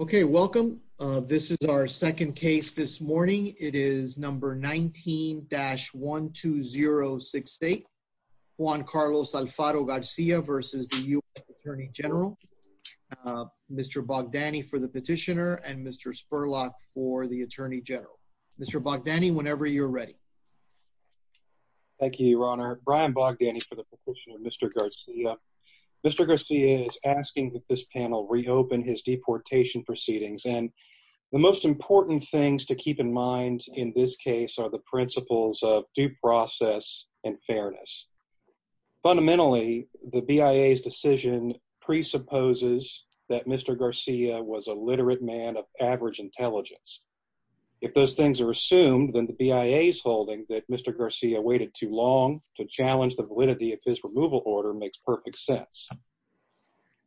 Okay, welcome. This is our second case this morning. It is number 19-1206. Juan Carlos Alfaro-Garcia versus the U.S. Attorney General. Mr. Bogdani for the petitioner and Mr. Spurlock for the Attorney General. Mr. Bogdani, whenever you're ready. Thank you, Your Honor. Brian Bogdani for the petitioner and Mr. Garcia. Mr. Garcia is asking that this panel reopen his deportation proceedings and the most important things to keep in mind in this case are the principles of due process and fairness. Fundamentally, the BIA's decision presupposes that Mr. Garcia was a literate man of average intelligence. If those things are assumed, then the BIA's holding that Mr. Garcia waited too long to challenge the validity of his removal order makes perfect sense.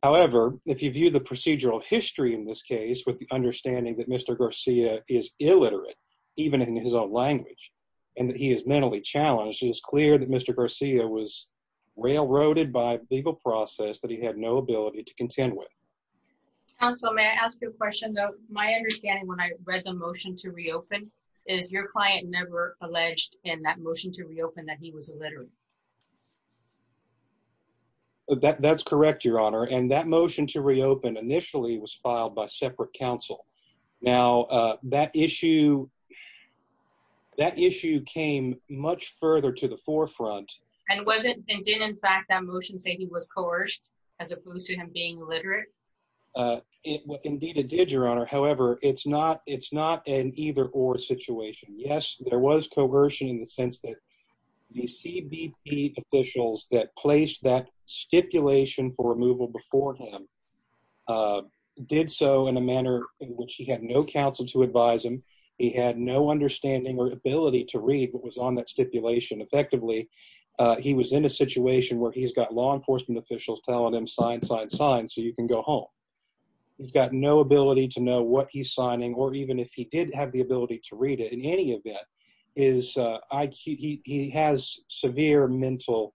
However, if you view the procedural history in this case with the understanding that Mr. Garcia is illiterate, even in his own language, and that he is mentally challenged, it is clear that Mr. Garcia was railroaded by legal process that he had no ability to contend with. Counsel, may I ask you a question? My understanding when I read the motion to reopen is your client never alleged in that motion to reopen that he was illiterate. That's correct, Your Honor, and that motion to reopen initially was filed by separate counsel. Now, that issue came much further to the forefront. And didn't in fact that motion say he was coerced as opposed to him being illiterate? Indeed it did, Your Honor. However, it's not an either or situation. Yes, there was coercion in the sense that the CBP officials that placed that stipulation for removal before him did so in a manner in which he had no counsel to advise him. He had no understanding or ability to read what was on that stipulation effectively. He was in a situation where he's got law enforcement officials telling him sign, sign, sign so you can go home. He's got no ability to know what he's signing or even if he did have the ability to read it. In any event, his IQ, he has severe mental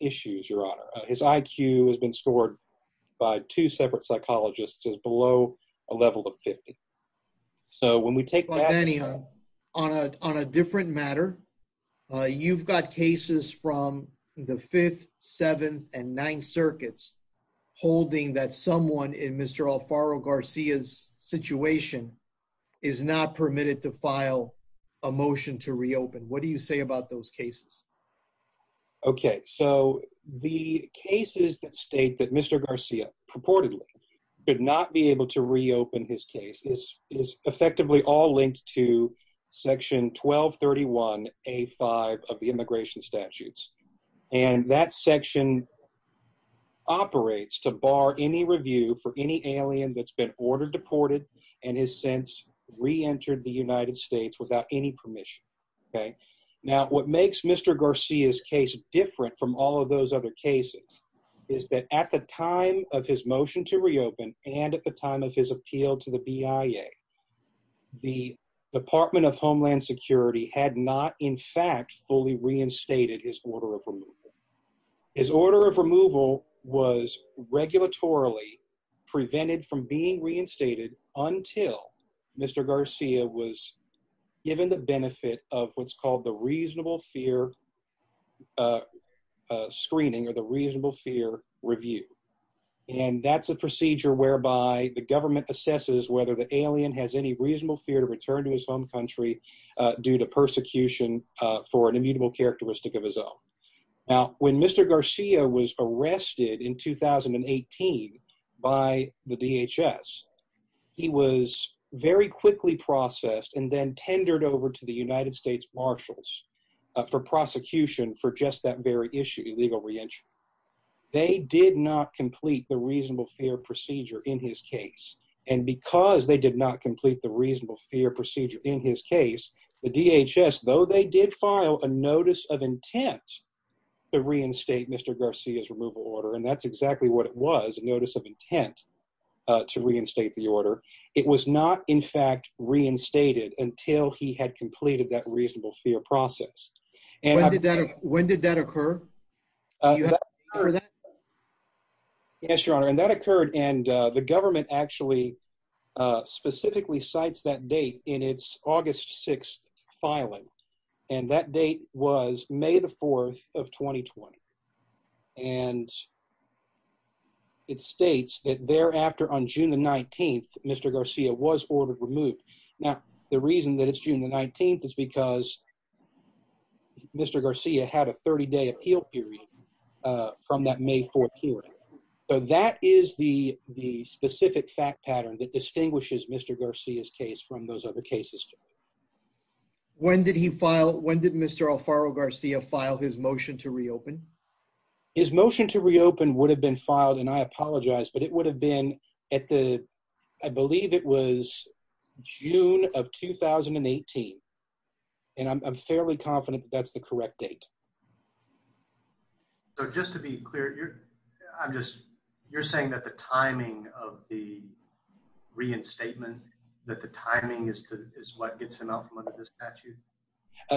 issues, Your Honor. His IQ has been scored by two separate psychologists as below a level of 50. So when we take that... On a different matter, you've got cases from the 5th, 7th, and 9th circuits holding that someone in Mr. Alfaro Garcia's situation is not permitted to file a motion to reopen. What do you say about those cases? Okay, so the cases that state that Mr. Garcia is permitted to reopen his case is effectively all linked to Section 1231A5 of the immigration statutes. And that section operates to bar any review for any alien that's been ordered deported and has since re-entered the United States without any permission. Okay, now what makes Mr. Garcia's case different from all of those other cases is that at the time of his motion to reopen and at the time of his appeal to the BIA, the Department of Homeland Security had not in fact fully reinstated his order of removal. His order of removal was regulatorily prevented from being reinstated until Mr. Garcia was given the benefit of what's called the reasonable fear screening or the reasonable fear review. And that's a procedure whereby the government assesses whether the alien has any reasonable fear to return to his home country due to persecution for an immutable characteristic of his own. Now when Mr. Garcia was arrested in 2018 by the DHS, he was very quickly processed and then tendered over to the United States Marshals for prosecution for just that very issue, illegal re-entry. They did not complete the reasonable fear procedure in his case and because they did not complete the reasonable fear procedure in his case, the DHS, though they did file a notice of intent to reinstate Mr. Garcia's removal order, and that's exactly what it was, a notice of intent to reinstate the order, it was not in fact reinstated until he had completed that reasonable fear process. When did that occur? Yes, your honor, and that occurred and the government actually specifically cites that date in its August 6th filing and that date was May the 4th of 2020. And it states that thereafter on June the 19th, Mr. Garcia was ordered removed. Now the reason that it's June the 19th is because Mr. Garcia had a 30-day appeal period from that May 4th hearing. So that is the specific fact pattern that distinguishes Mr. Garcia's case from those other cases. When did he file, when did Mr. Alfaro Garcia file his motion to reopen? His motion to reopen would have been filed, and I apologize, but it would have been at the, I believe it was June of 2018, and I'm fairly confident that's the correct date. So just to be clear, you're, I'm just, you're saying that the timing of the reinstatement, that the timing is what gets him out from under this statute?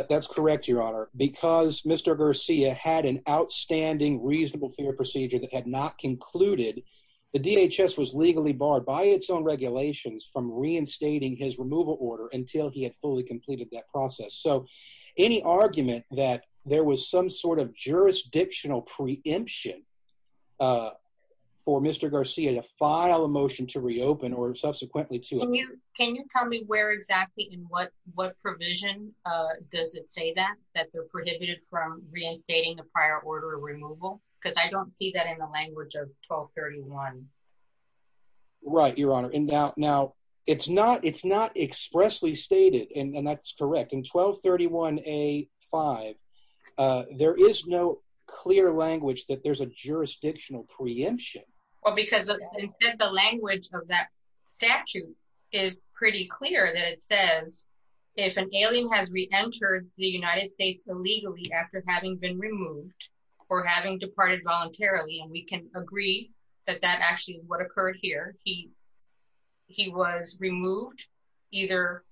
That's correct, your honor, because Mr. Garcia had an outstanding reasonable fear procedure that had not concluded, the DHS was legally barred by its own regulations from reinstating his removal order until he had fully completed that process. So any argument that there was some sort of jurisdictional preemption for Mr. Garcia to file a motion to reopen or subsequently to... Can you tell me where exactly and what, what provision does it say that, that they're prohibited from reinstating the prior order of removal? Because I don't see that in the language of 1231. Right, your honor, and now, now it's not, it's not expressly stated, and that's correct, in 1231-A-5 there is no clear language that there's a jurisdictional preemption. Well, because the language of that statute is pretty clear that it says, if an alien has re-entered the United States illegally after having been removed or having departed voluntarily, and we can agree that that actually is what occurred here, he, he was removed either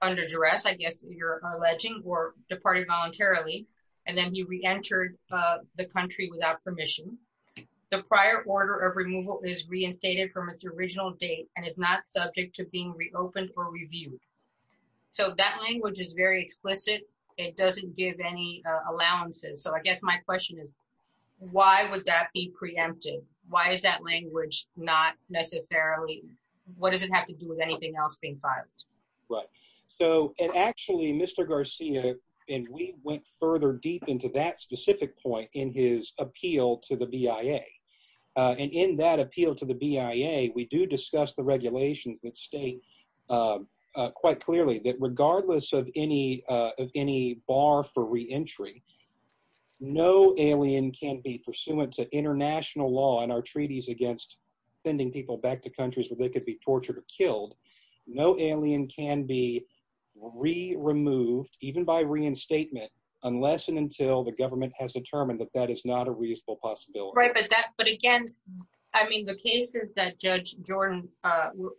under duress, I guess you're alleging, or departed voluntarily, and then he re-entered the country without permission. The prior order of removal is reinstated from its original date and is not subject to being reopened or reviewed. So that language is very explicit. It doesn't give any allowances. So I guess my question is, why would that be preempted? Why is that language not necessarily, what does it have to do with anything else being filed? Right, so, and actually, Mr. Garcia, and we went further deep into that specific point in his appeal to the BIA, and in that appeal to the BIA, we do discuss the regulations that state quite clearly that regardless of any, of any bar for re-entry, no alien can be pursuant to international law in our treaties against sending people back to countries where they could be tortured or killed. No alien can be re-removed, even by reinstatement, unless and until the government has determined that that is not a reasonable possibility. Right, but that, but again, I mean, the cases that Judge Jordan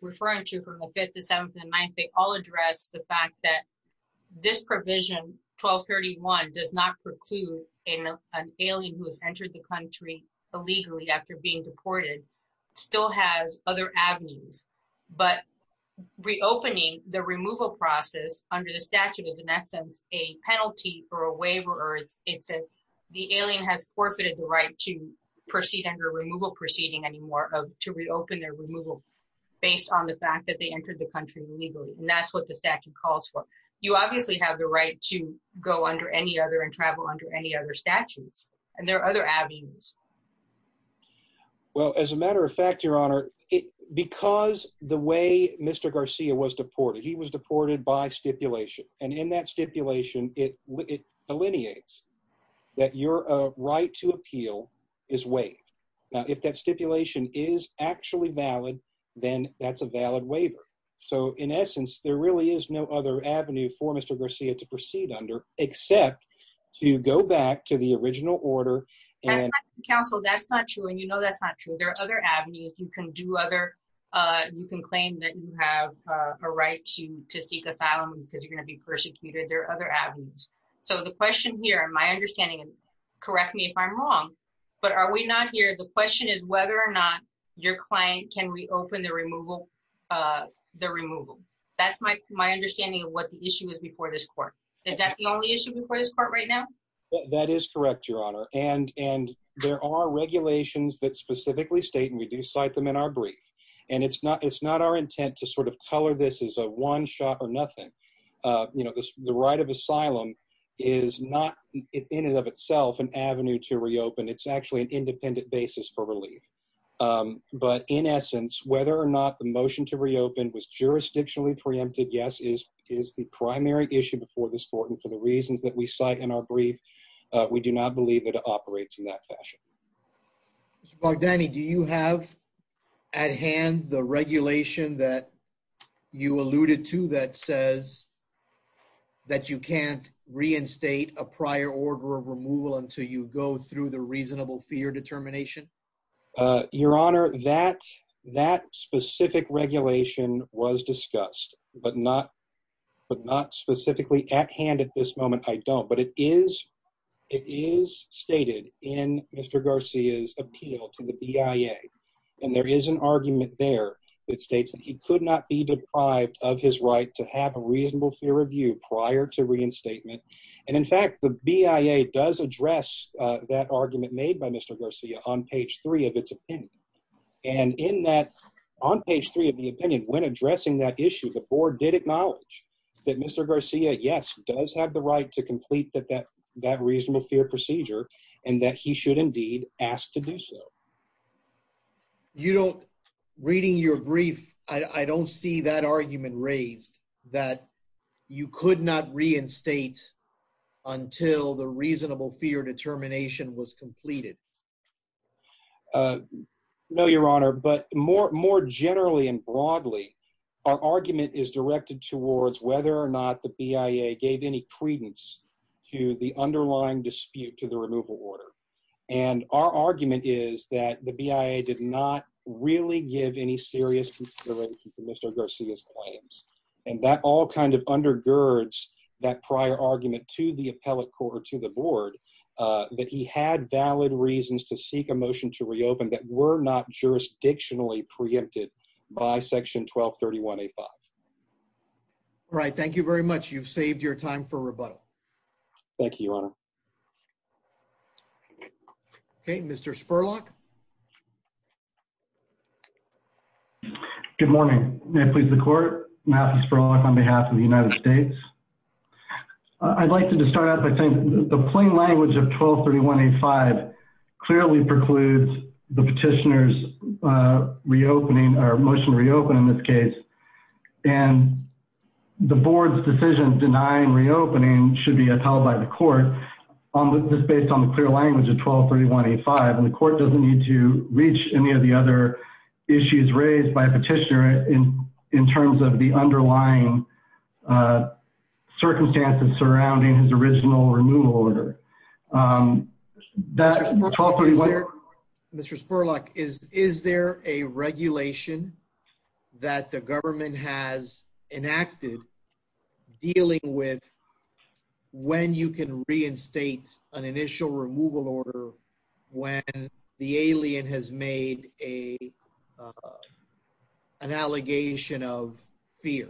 referred to from the 5th, the 7th, and the 9th, they all address the fact that this provision, 1231, does not preclude an alien who has entered the country illegally after being deported, still has other avenues, but reopening the removal process under the statute is in essence a penalty or a waiver, or it's, it's a, the alien has forfeited the right to proceed under removal proceeding anymore, to reopen their removal based on the fact that they entered the country illegally, and that's what the statute calls for. You obviously have the right to go under any other and travel under any other statutes, and there are other avenues. Well, as a matter of fact, Your Honor, it, because the way Mr. Garcia was deported, he was deported by stipulation, and in that stipulation, it, it delineates that your right to appeal is waived. Now, if that stipulation is actually valid, then that's a valid waiver. So, in essence, there really is no other avenue for Mr. Garcia to proceed under, except to go back to the original order. Counsel, that's not true, and you know that's not true. There are other avenues. You can do other, you can claim that you have a right to, to seek asylum because you're going to be persecuted. There are other avenues. So, the question here, in my understanding, and correct me if I'm wrong, but are we not here, the question is whether or not your client can reopen the removal, the removal. That's my, my understanding of what the issue is before this court right now. That is correct, Your Honor, and, and there are regulations that specifically state, and we do cite them in our brief, and it's not, it's not our intent to sort of color this as a one shot or nothing. You know, this, the right of asylum is not, in and of itself, an avenue to reopen. It's actually an independent basis for relief, but in essence, whether or not the motion to reopen was jurisdictionally preempted, yes, is, is the primary issue before this court, and for the reasons that we cite in our brief, we do not believe it operates in that fashion. Mr. Bogdani, do you have at hand the regulation that you alluded to that says that you can't reinstate a prior order of removal until you go through the reasonable fear determination? Your Honor, that, that specific regulation was discussed, but not, but not specifically at hand at this moment. I don't, but it is, it is stated in Mr. Garcia's appeal to the BIA, and there is an argument there that states that he could not be deprived of his right to have a reasonable fear review prior to reinstatement, and in fact, the BIA does address that argument made by Mr. Garcia on page three of its opinion, and in that, on page three of the opinion, when addressing that issue, the board did acknowledge that Mr. Garcia, yes, does have the right to complete that, that, that reasonable fear procedure, and that he should indeed ask to do so. You don't, reading your brief, I don't see that argument raised that you could not reinstate until the reasonable fear determination was completed. No, Your Honor, but more, more generally and broadly, our argument is directed towards whether or not the BIA gave any credence to the underlying dispute to the removal order, and our argument is that the BIA did not really give any serious consideration for Mr. Garcia's claims, and that all kind of undergirds that prior argument to the appellate court or to the board, uh, that he had valid reasons to seek a motion to reopen that were not jurisdictionally preempted by section 1231A5. All right, thank you very much. You've saved your time for rebuttal. Thank you, Your Honor. Okay, Mr. Spurlock. Good morning. May it please the court, Mathis Spurlock on behalf of the United States. I'd like to just start out by saying the plain language of 1231A5 clearly precludes the petitioner's reopening, or motion to reopen in this case, and the board's decision denying reopening should be in the plain language of 1231A5, and the court doesn't need to reach any of the other issues raised by a petitioner in terms of the underlying circumstances surrounding his original removal order. Mr. Spurlock, is there a regulation that the government has enacted dealing with when you can reinstate an initial removal order when the alien has made a, uh, an allegation of fear?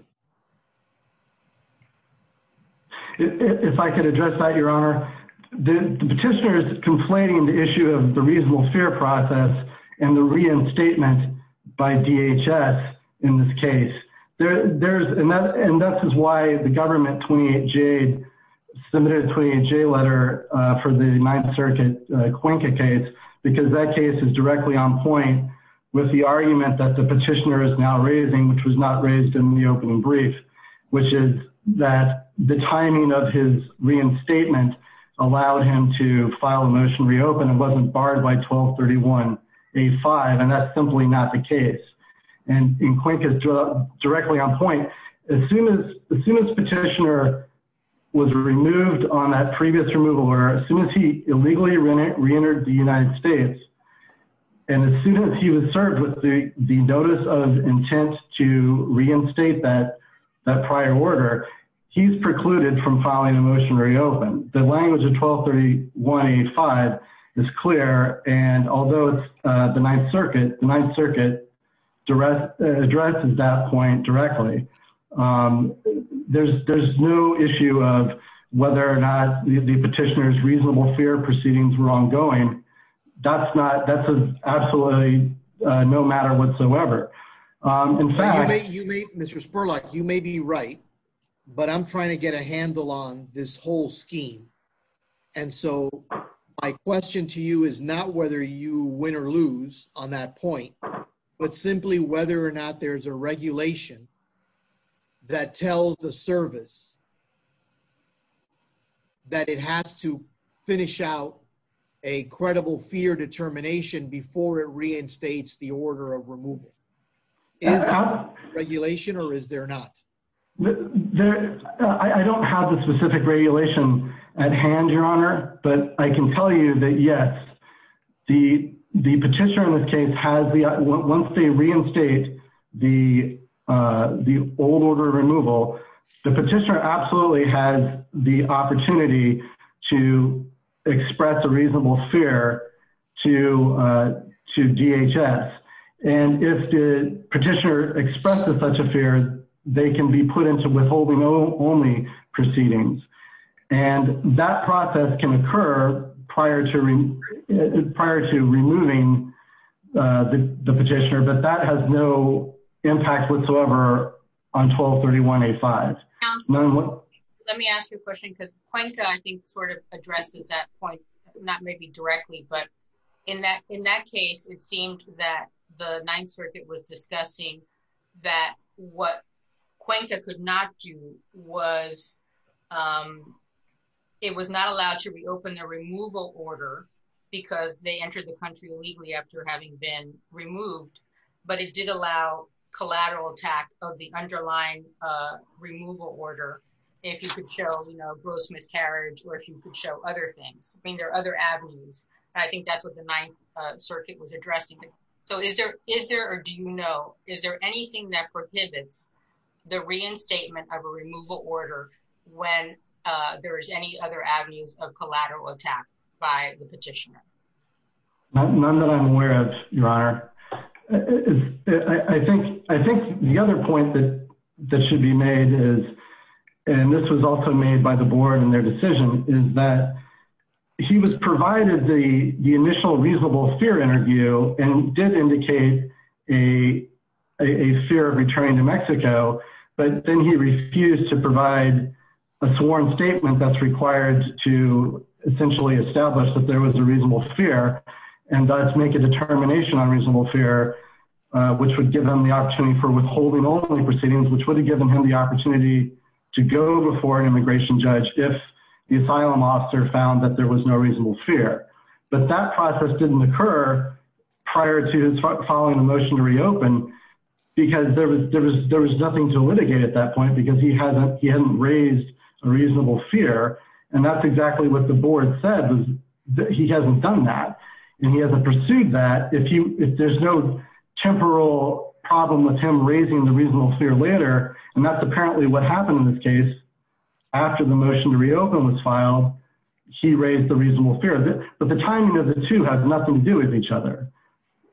If I could address that, Your Honor, the petitioner is complaining the issue of the reasonable fear process and the reinstatement by DHS in this case. There, there's, and that, is why the government 28J, submitted a 28J letter, uh, for the Ninth Circuit, uh, Cuenca case, because that case is directly on point with the argument that the petitioner is now raising, which was not raised in the opening brief, which is that the timing of his reinstatement allowed him to file a motion to reopen and wasn't barred by 1231A5, and that's simply not the case, and in Cuenca's, uh, directly on point, as soon as, as soon as petitioner was removed on that previous removal order, as soon as he illegally reentered the United States, and as soon as he was served with the, the notice of intent to reinstate that, that prior order, he's precluded from filing a motion to reopen. The language of 1231A5 is clear, and although it's, uh, the Ninth Circuit direct, addresses that point directly, um, there's, there's no issue of whether or not the petitioner's reasonable fear proceedings were ongoing. That's not, that's absolutely, uh, no matter whatsoever. Um, in fact... You may, you may, Mr. Spurlock, you may be right, but I'm trying to get a handle on this whole scheme, and so my question to you is not whether you win or lose on that point, but simply whether or not there's a regulation that tells the service that it has to finish out a credible fear determination before it reinstates the order of removal. Is that a regulation, or is there not? There, I don't have the specific regulation at hand, Your Honor, but I can tell you that, yes, the, the petitioner in this case has the, once they reinstate the, uh, the old order of removal, the petitioner absolutely has the opportunity to express a reasonable fear to, uh, to DHS, and if the petitioner expresses such a fear, they can be put into withholding only proceedings, and that process can occur prior to re, prior to removing, uh, the, the petitioner, but that has no impact whatsoever on 1231A5. Let me ask you a question, because Cuenca, I think, sort of addresses that point, not maybe directly, but in that, in that case, it seemed that the Ninth that what Cuenca could not do was, um, it was not allowed to reopen the removal order because they entered the country illegally after having been removed, but it did allow collateral attack of the underlying, uh, removal order if you could show, you know, gross miscarriage or if you could show other things. I mean, there are other avenues. I think that's what the Ninth, uh, Circuit was proposing that prohibits the reinstatement of a removal order when, uh, there is any other avenues of collateral attack by the petitioner. Not that I'm aware of, Your Honor. I think, I think the other point that, that should be made is, and this was also made by the board and their decision, is that he was provided the, the initial reasonable fear interview and did indicate a, a, a fear of returning to Mexico, but then he refused to provide a sworn statement that's required to essentially establish that there was a reasonable fear and thus make a determination on reasonable fear, uh, which would give them the opportunity for withholding only proceedings, which would have given him the opportunity to go before an immigration judge if the asylum officer found that there was no reasonable fear. But that process didn't occur prior to following the motion to reopen because there was, there was, there was nothing to litigate at that point because he hasn't, he hadn't raised a reasonable fear. And that's exactly what the board said, was that he hasn't done that. And he hasn't pursued that. If he, if there's no temporal problem with him raising the reasonable fear later, and that's apparently what happened in this case after the motion to reopen was filed, he raised the reasonable fear, but the timing of the two has nothing to do with each other.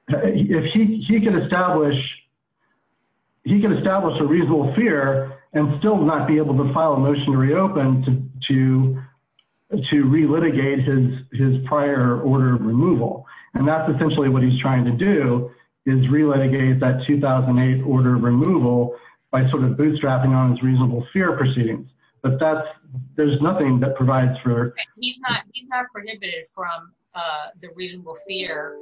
If he, he can establish, he can establish a reasonable fear and still not be able to file a motion to reopen to, to, to re-litigate his, his prior order of removal. And that's essentially what he's trying to do is re-litigate that 2008 order of removal by sort of bootstrapping on his reasonable fear proceedings. But that's, there's nothing that fear,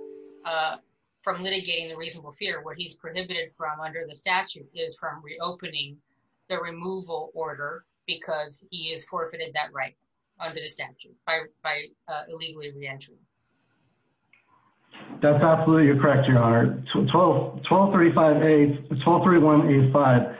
uh, from litigating the reasonable fear where he's prohibited from under the statute is from reopening the removal order because he has forfeited that right under the statute by, by, uh, illegally re-entry. That's absolutely correct, Your Honor. 12, 1235A, 1231A5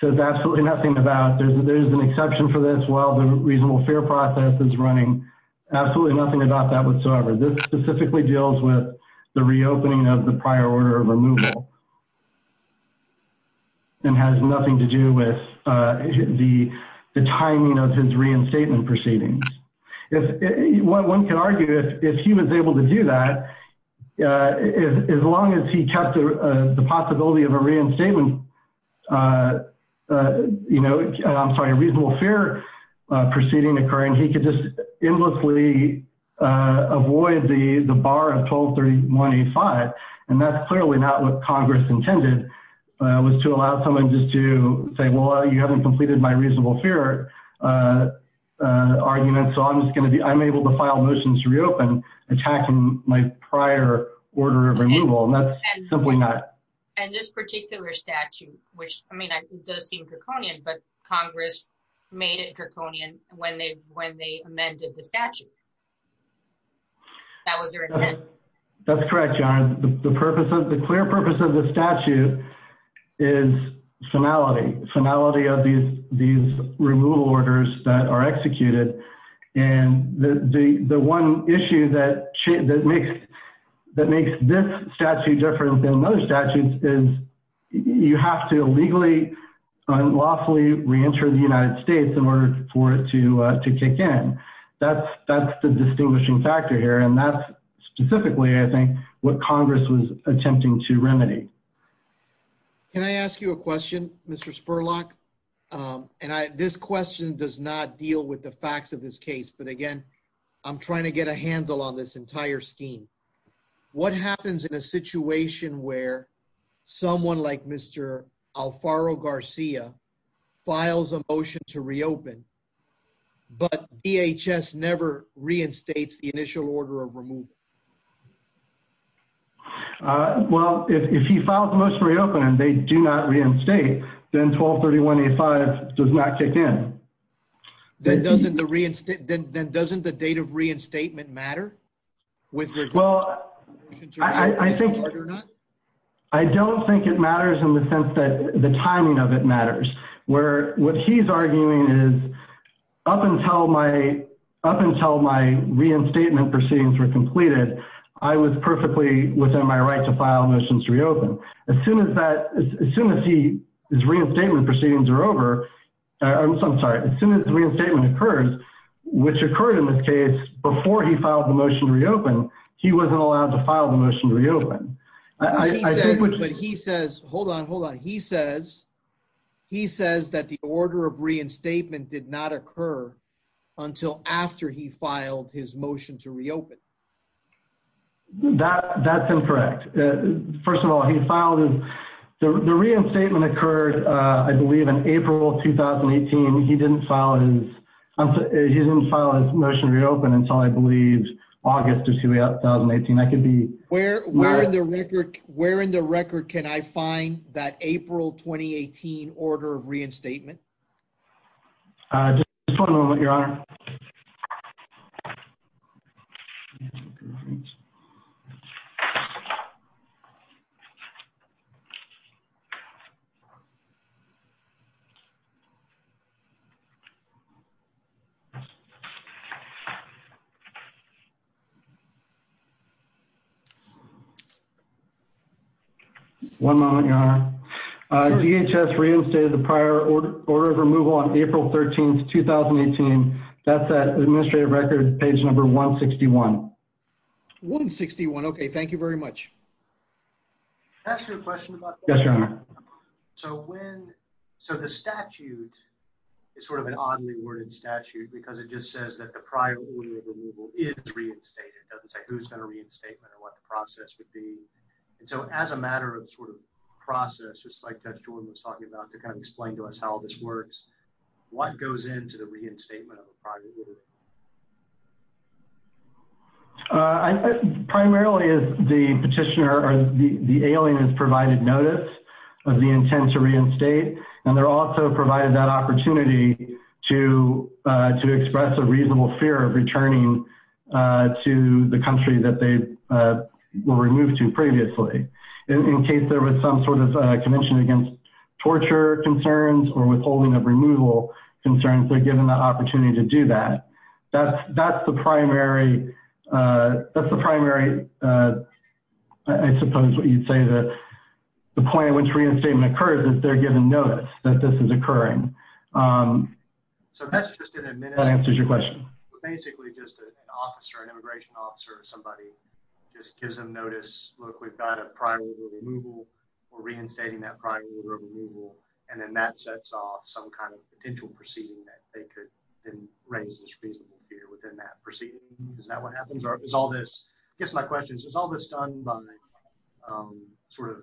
says absolutely nothing about, there's, there's an exception for this while the reasonable fear process is running. Absolutely nothing about that whatsoever. This specifically deals with the reopening of the prior order of removal and has nothing to do with, uh, the, the timing of his reinstatement proceedings. If one can argue, if, if he was able to do that, uh, as long as he kept the possibility of a reinstatement, uh, uh, you know, I'm sorry, a reasonable fear, uh, proceeding occurring, he could just endlessly, uh, avoid the, the bar of 1231A5. And that's clearly not what Congress intended, uh, was to allow someone just to say, well, you haven't completed my reasonable fear, uh, uh, argument. So I'm just going to be, I'm able to file motions to reopen attacking my prior order of removal. And that's simply not. And this particular statute, which, I mean, it does seem draconian, but Congress made it draconian when they, when they amended the statute. That was their intent. That's correct. The purpose of the clear purpose of the statute is finality, finality of these, these removal orders that are executed. And the, the, the one issue that makes, that makes this statute different than most statutes is you have to illegally unlawfully reenter the United States in order for it to, uh, to kick in. That's, that's the distinguishing factor here. And that's specifically, I think what Congress was attempting to remedy. Can I ask you a question, Mr. Spurlock? Um, and I, this question does not deal with the facts of this case, but again, I'm trying to get a handle on this entire scheme. What happens in a situation where someone like Mr. Alfaro Garcia files a motion to reopen, but DHS never reinstates the initial order of removal? Uh, well, if he filed the motion to reopen and they do not reinstate, then 1231A5 does not kick in. Then doesn't the reinstate, then doesn't the date of reinstatement matter? Well, I think, I don't think it matters in the sense that the timing of it matters, where what he's arguing is up until my, up until my reinstatement proceedings were completed, I was perfectly within my right to file motions to reopen. As soon as that, as soon as he, his reinstatement proceedings are over, I'm sorry, as soon as the reinstatement occurs, which occurred in this case before he filed the motion to reopen, he wasn't allowed to file the motion to reopen. He says, but he says, hold on, hold on. He says, he says that the order of reinstatement did not occur until after he filed his motion to reopen. That, that's incorrect. First of all, he filed his, the reinstatement occurred, I believe in April, 2018. He didn't file his, he didn't file his motion to reopen until I believe August of 2018. I could be. Where, where in the record, where in the record can I find that April, 2018 order of reinstatement? Just one moment, your honor. One moment, your honor. DHS reinstated the prior order of removal on April 13th, 2018. That's that administrative record, page number 161. 161. Okay. Thank you very much. Can I ask you a question about that? Yes, your honor. So when, so the statute is sort of an oddly worded statute because it just says that the prior order of removal is reinstated. It doesn't say who's going to reinstatement or what the process would be. And so as a matter of sort of process, just like Judge Jordan was talking about to kind of explain to us how all this works, what goes into the reinstatement of a prior order? Primarily as the petitioner or the alien has provided notice of the intent to reinstate, and they're also provided that opportunity to, to express a reasonable fear of returning to the country that they were removed to previously. In case there was some sort of torture concerns or withholding of removal concerns, they're given the opportunity to do that. That's, that's the primary, that's the primary, I suppose what you'd say that the point at which reinstatement occurs is they're given notice that this is occurring. So that's just an administrative- That answers your question. Basically just an officer, an immigration officer or somebody just gives them notice, look, we've got a prior order of removal, we're reinstating that prior order of removal, and then that sets off some kind of potential proceeding that they could then raise this reasonable fear within that proceeding. Is that what happens? Or is all this, I guess my question is, is all this done by sort of,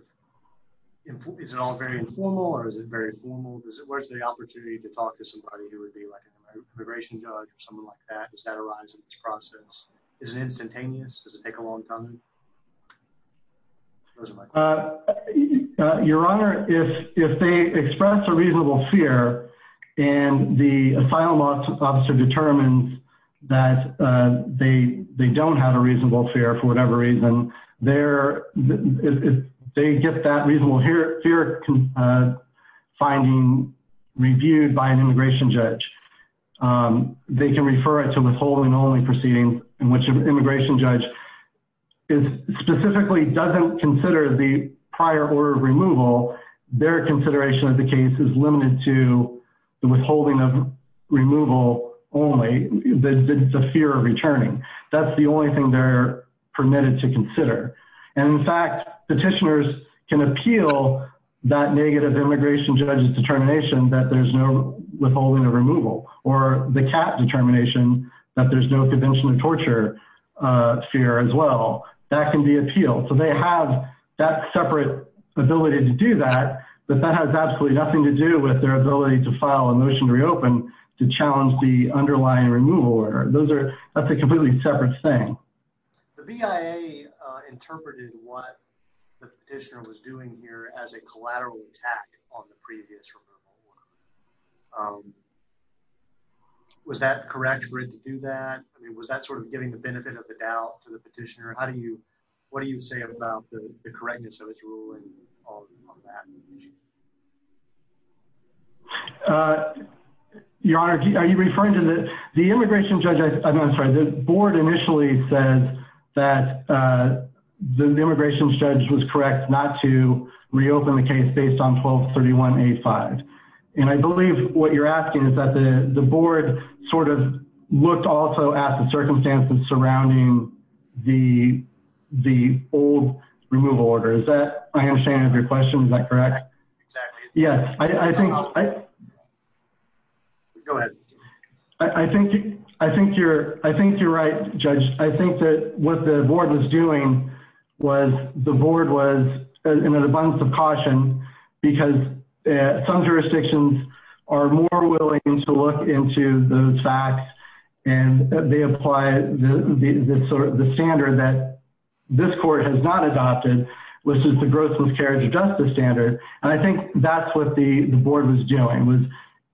is it all very informal or is it very formal? Does it, where's the opportunity to talk to somebody who would be like an immigration judge or someone like that? Does that arise in this process? Is it instantaneous? Does it take a long time? Where's my question? Your Honor, if they express a reasonable fear and the asylum officer determines that they don't have a reasonable fear for whatever reason, they get that reasonable fear finding reviewed by an immigration judge. They can refer it to withholding only proceedings in which an immigration judge is specifically doesn't consider the prior order of removal, their consideration of the case is limited to the withholding of removal only, the fear of returning. That's the only thing they're permitted to consider. And in fact, petitioners can appeal that negative immigration judge's determination that there's no withholding of removal or the CAP determination that there's no convention of torture fear as well. That can be appealed. So they have that separate ability to do that, but that has absolutely nothing to do with their ability to file a motion to reopen to challenge the underlying removal order. Those are, that's a completely separate thing. The BIA interpreted what the petitioner was doing here as a collateral attack on the previous removal order. Was that correct for it to do that? I mean, was that sort of giving the benefit of the doubt to the petitioner? How do you, what do you say about the correctness of his ruling on that? Your Honor, are you referring to the, the immigration judge, I'm sorry, the board initially says that the immigration judge was correct not to reopen the case based on 1231A5. And I believe what you're asking is that the board sort of looked also at the circumstances surrounding the, the old removal order. Is that, I understand your question. Is that correct? Yes. I think, I think you're, I think you're right, judge. I think that what the board was doing was the board was in an abundance of caution because some jurisdictions are more willing to look into those facts and they apply the sort of the standard that this court has not and I think that's what the board was doing was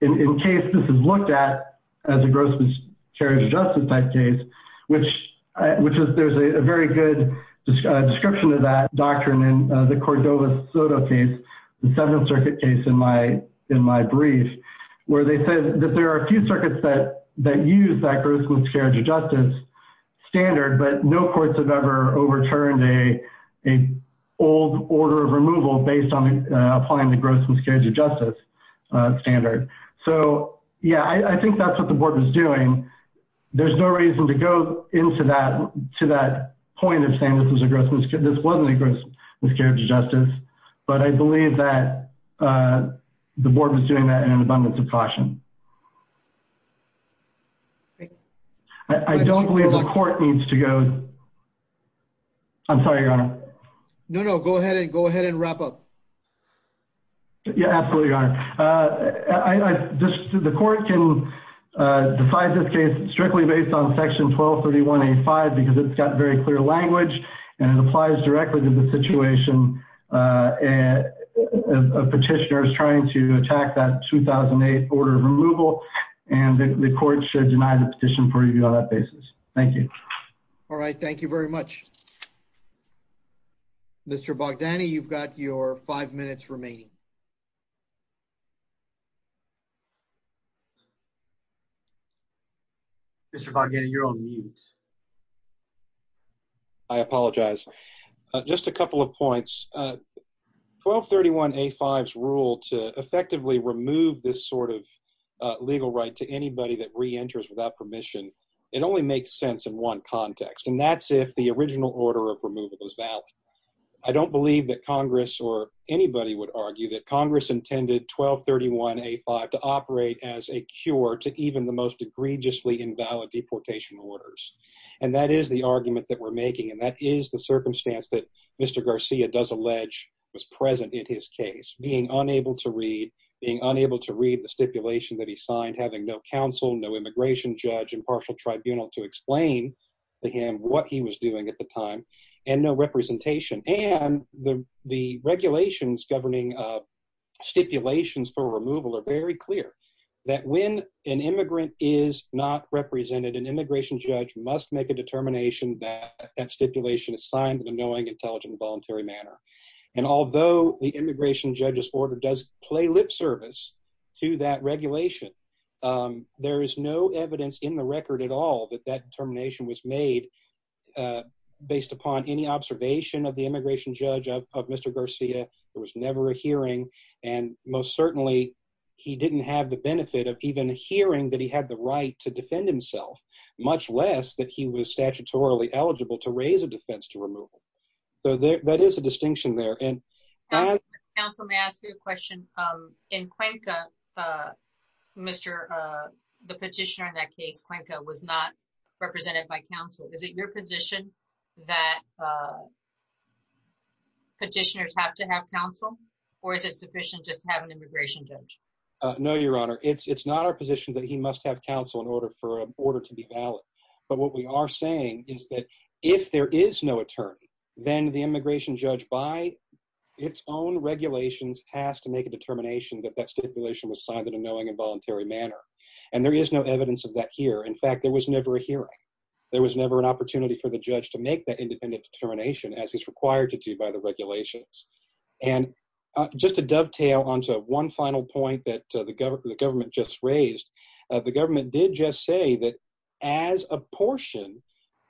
in case this is looked at as a gross miscarriage of justice type case, which, which is, there's a very good description of that doctrine in the Cordova Soto case, the seventh circuit case in my, in my brief, where they said that there are a few circuits that, that use that gross miscarriage of justice standard, but no courts have ever overturned a, a old order of removal based on applying the gross miscarriage of justice standard. So yeah, I think that's what the board was doing. There's no reason to go into that, to that point of saying this was a gross miscarriage, this wasn't a gross miscarriage of justice, but I believe that the board was doing that in an abundance of caution. I don't believe the court needs to go. I'm sorry, your honor. No, no, go ahead and go ahead and wrap up. Yeah, absolutely, your honor. I just, the court can decide this case strictly based on section 1231A5 because it's got very clear language and it applies directly to the situation and a petitioner is trying to attack that 2008 order of removal and the court should deny the petition for review on that basis. Thank you. All right. Thank you very much. Mr. Bogdani, you've got your five minutes remaining. Mr. Bogdani, you're on mute. I apologize. Just a couple of points. 1231A5's rule to effectively remove this sort of legal right to anybody that re-enters without permission, it only makes sense in one context and that's if the original order of removal was valid. I don't believe that Congress or anybody would argue that Congress intended 1231A5 to operate as a cure to even the most egregiously invalid deportation orders and that is the argument that we're making and that is the circumstance that Mr. Garcia does allege was present in his case. Being unable to read, being unable to read the stipulation that he signed, having no counsel, no immigration judge, impartial tribunal to explain to him what he was doing at the time and no representation and the regulations governing stipulations for removal are very clear that when an immigrant is not represented, an immigration judge must make a determination that that stipulation is signed in a knowing, intelligent, voluntary manner and although the immigration judge's order does play lip service to that regulation, there is no evidence in the record at all that that determination was made based upon any observation of the immigration judge of Mr. Garcia. There was never a hearing and most certainly he didn't have the benefit of even hearing that he had the right to defend himself, much less that he was statutorily eligible to raise a defense to removal. So there that is a distinction there and... Counsel may I ask you a question? In Cuenca, Mr. the petitioner in that case, Cuenca was not represented by counsel. Is it your position that petitioners have to have counsel or is it sufficient just to have an immigration judge? No, your honor. It's not our position that he must have counsel in order to be valid, but what we are saying is that if there is no attorney, then the immigration judge by its own regulations has to make a determination that that stipulation was signed in a knowing and voluntary manner and there is no evidence of that here. In fact, there was never a hearing. There was never an opportunity for the judge to make that independent determination as he's on to one final point that the government just raised. The government did just say that as a portion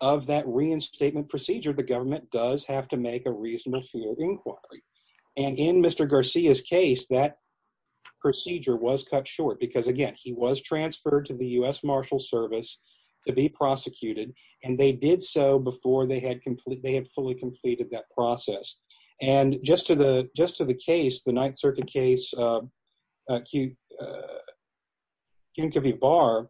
of that reinstatement procedure, the government does have to make a reasonable field inquiry and in Mr. Garcia's case, that procedure was cut short because again, he was transferred to the U.S. Marshal Service to be prosecuted and they did so before they had fully completed that circuit case. Kim Covey Barr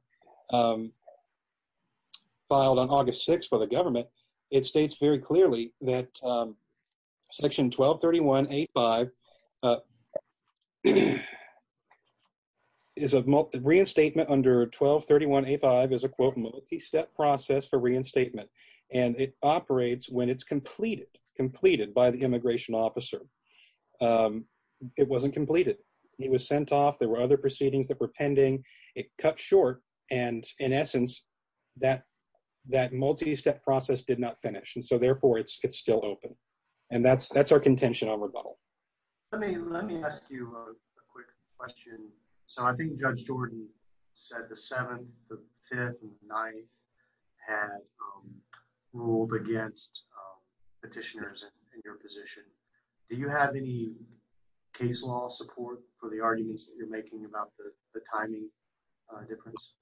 filed on August 6 for the government. It states very clearly that section 1231.85 is a multi reinstatement under 1231.85 is a quote multi-step process for reinstatement and it operates when it's completed by the immigration officer. It wasn't completed. He was sent off. There were other proceedings that were pending. It cut short and in essence, that multi-step process did not finish and so therefore, it's still open and that's our contention on rebuttal. Let me ask you a quick question. So I think Judge Jordan said the 7th, the 5th and the 9th had ruled against petitioners in your position. Do you have any case law support for the arguments that you're making about the timing difference?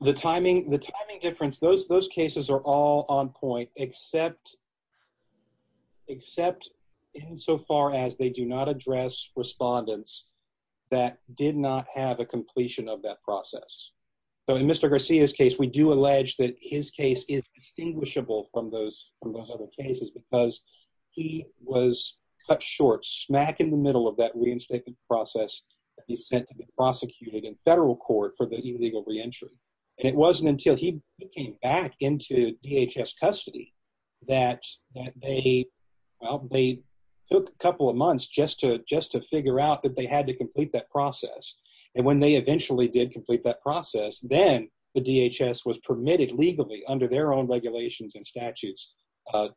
The timing difference, those cases are all on point except insofar as they do not address respondents that did not have a completion of that process. So in Mr. Garcia's case, we do allege that his case is distinguishable from those other cases because he was cut short smack in the middle of that reinstatement process that he sent to be prosecuted in federal court for the illegal re-entry and it wasn't until he came back into DHS custody that they took a couple of months just to figure out that they had to then the DHS was permitted legally under their own regulations and statutes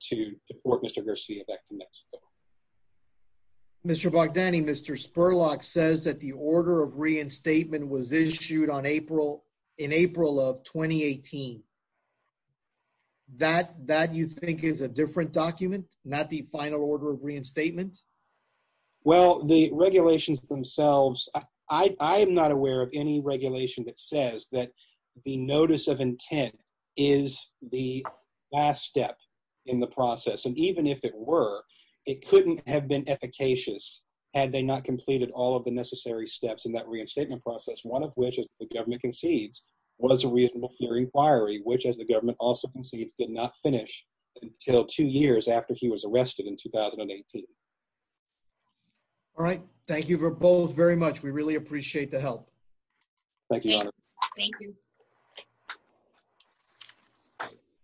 to deport Mr. Garcia back to Mexico. Mr. Bogdani, Mr. Spurlock says that the order of reinstatement was issued in April of 2018. That you think is a different document, not the final order of reinstatement? Well, the regulations themselves, I am not aware of any regulation that says that the notice of intent is the last step in the process and even if it were, it couldn't have been efficacious had they not completed all of the necessary steps in that reinstatement process, one of which, as the government concedes, was a reasonable hearing inquiry which, as the government also concedes, did not finish until two years after he was arrested in 2018. All right, thank you both very much. We really appreciate the help.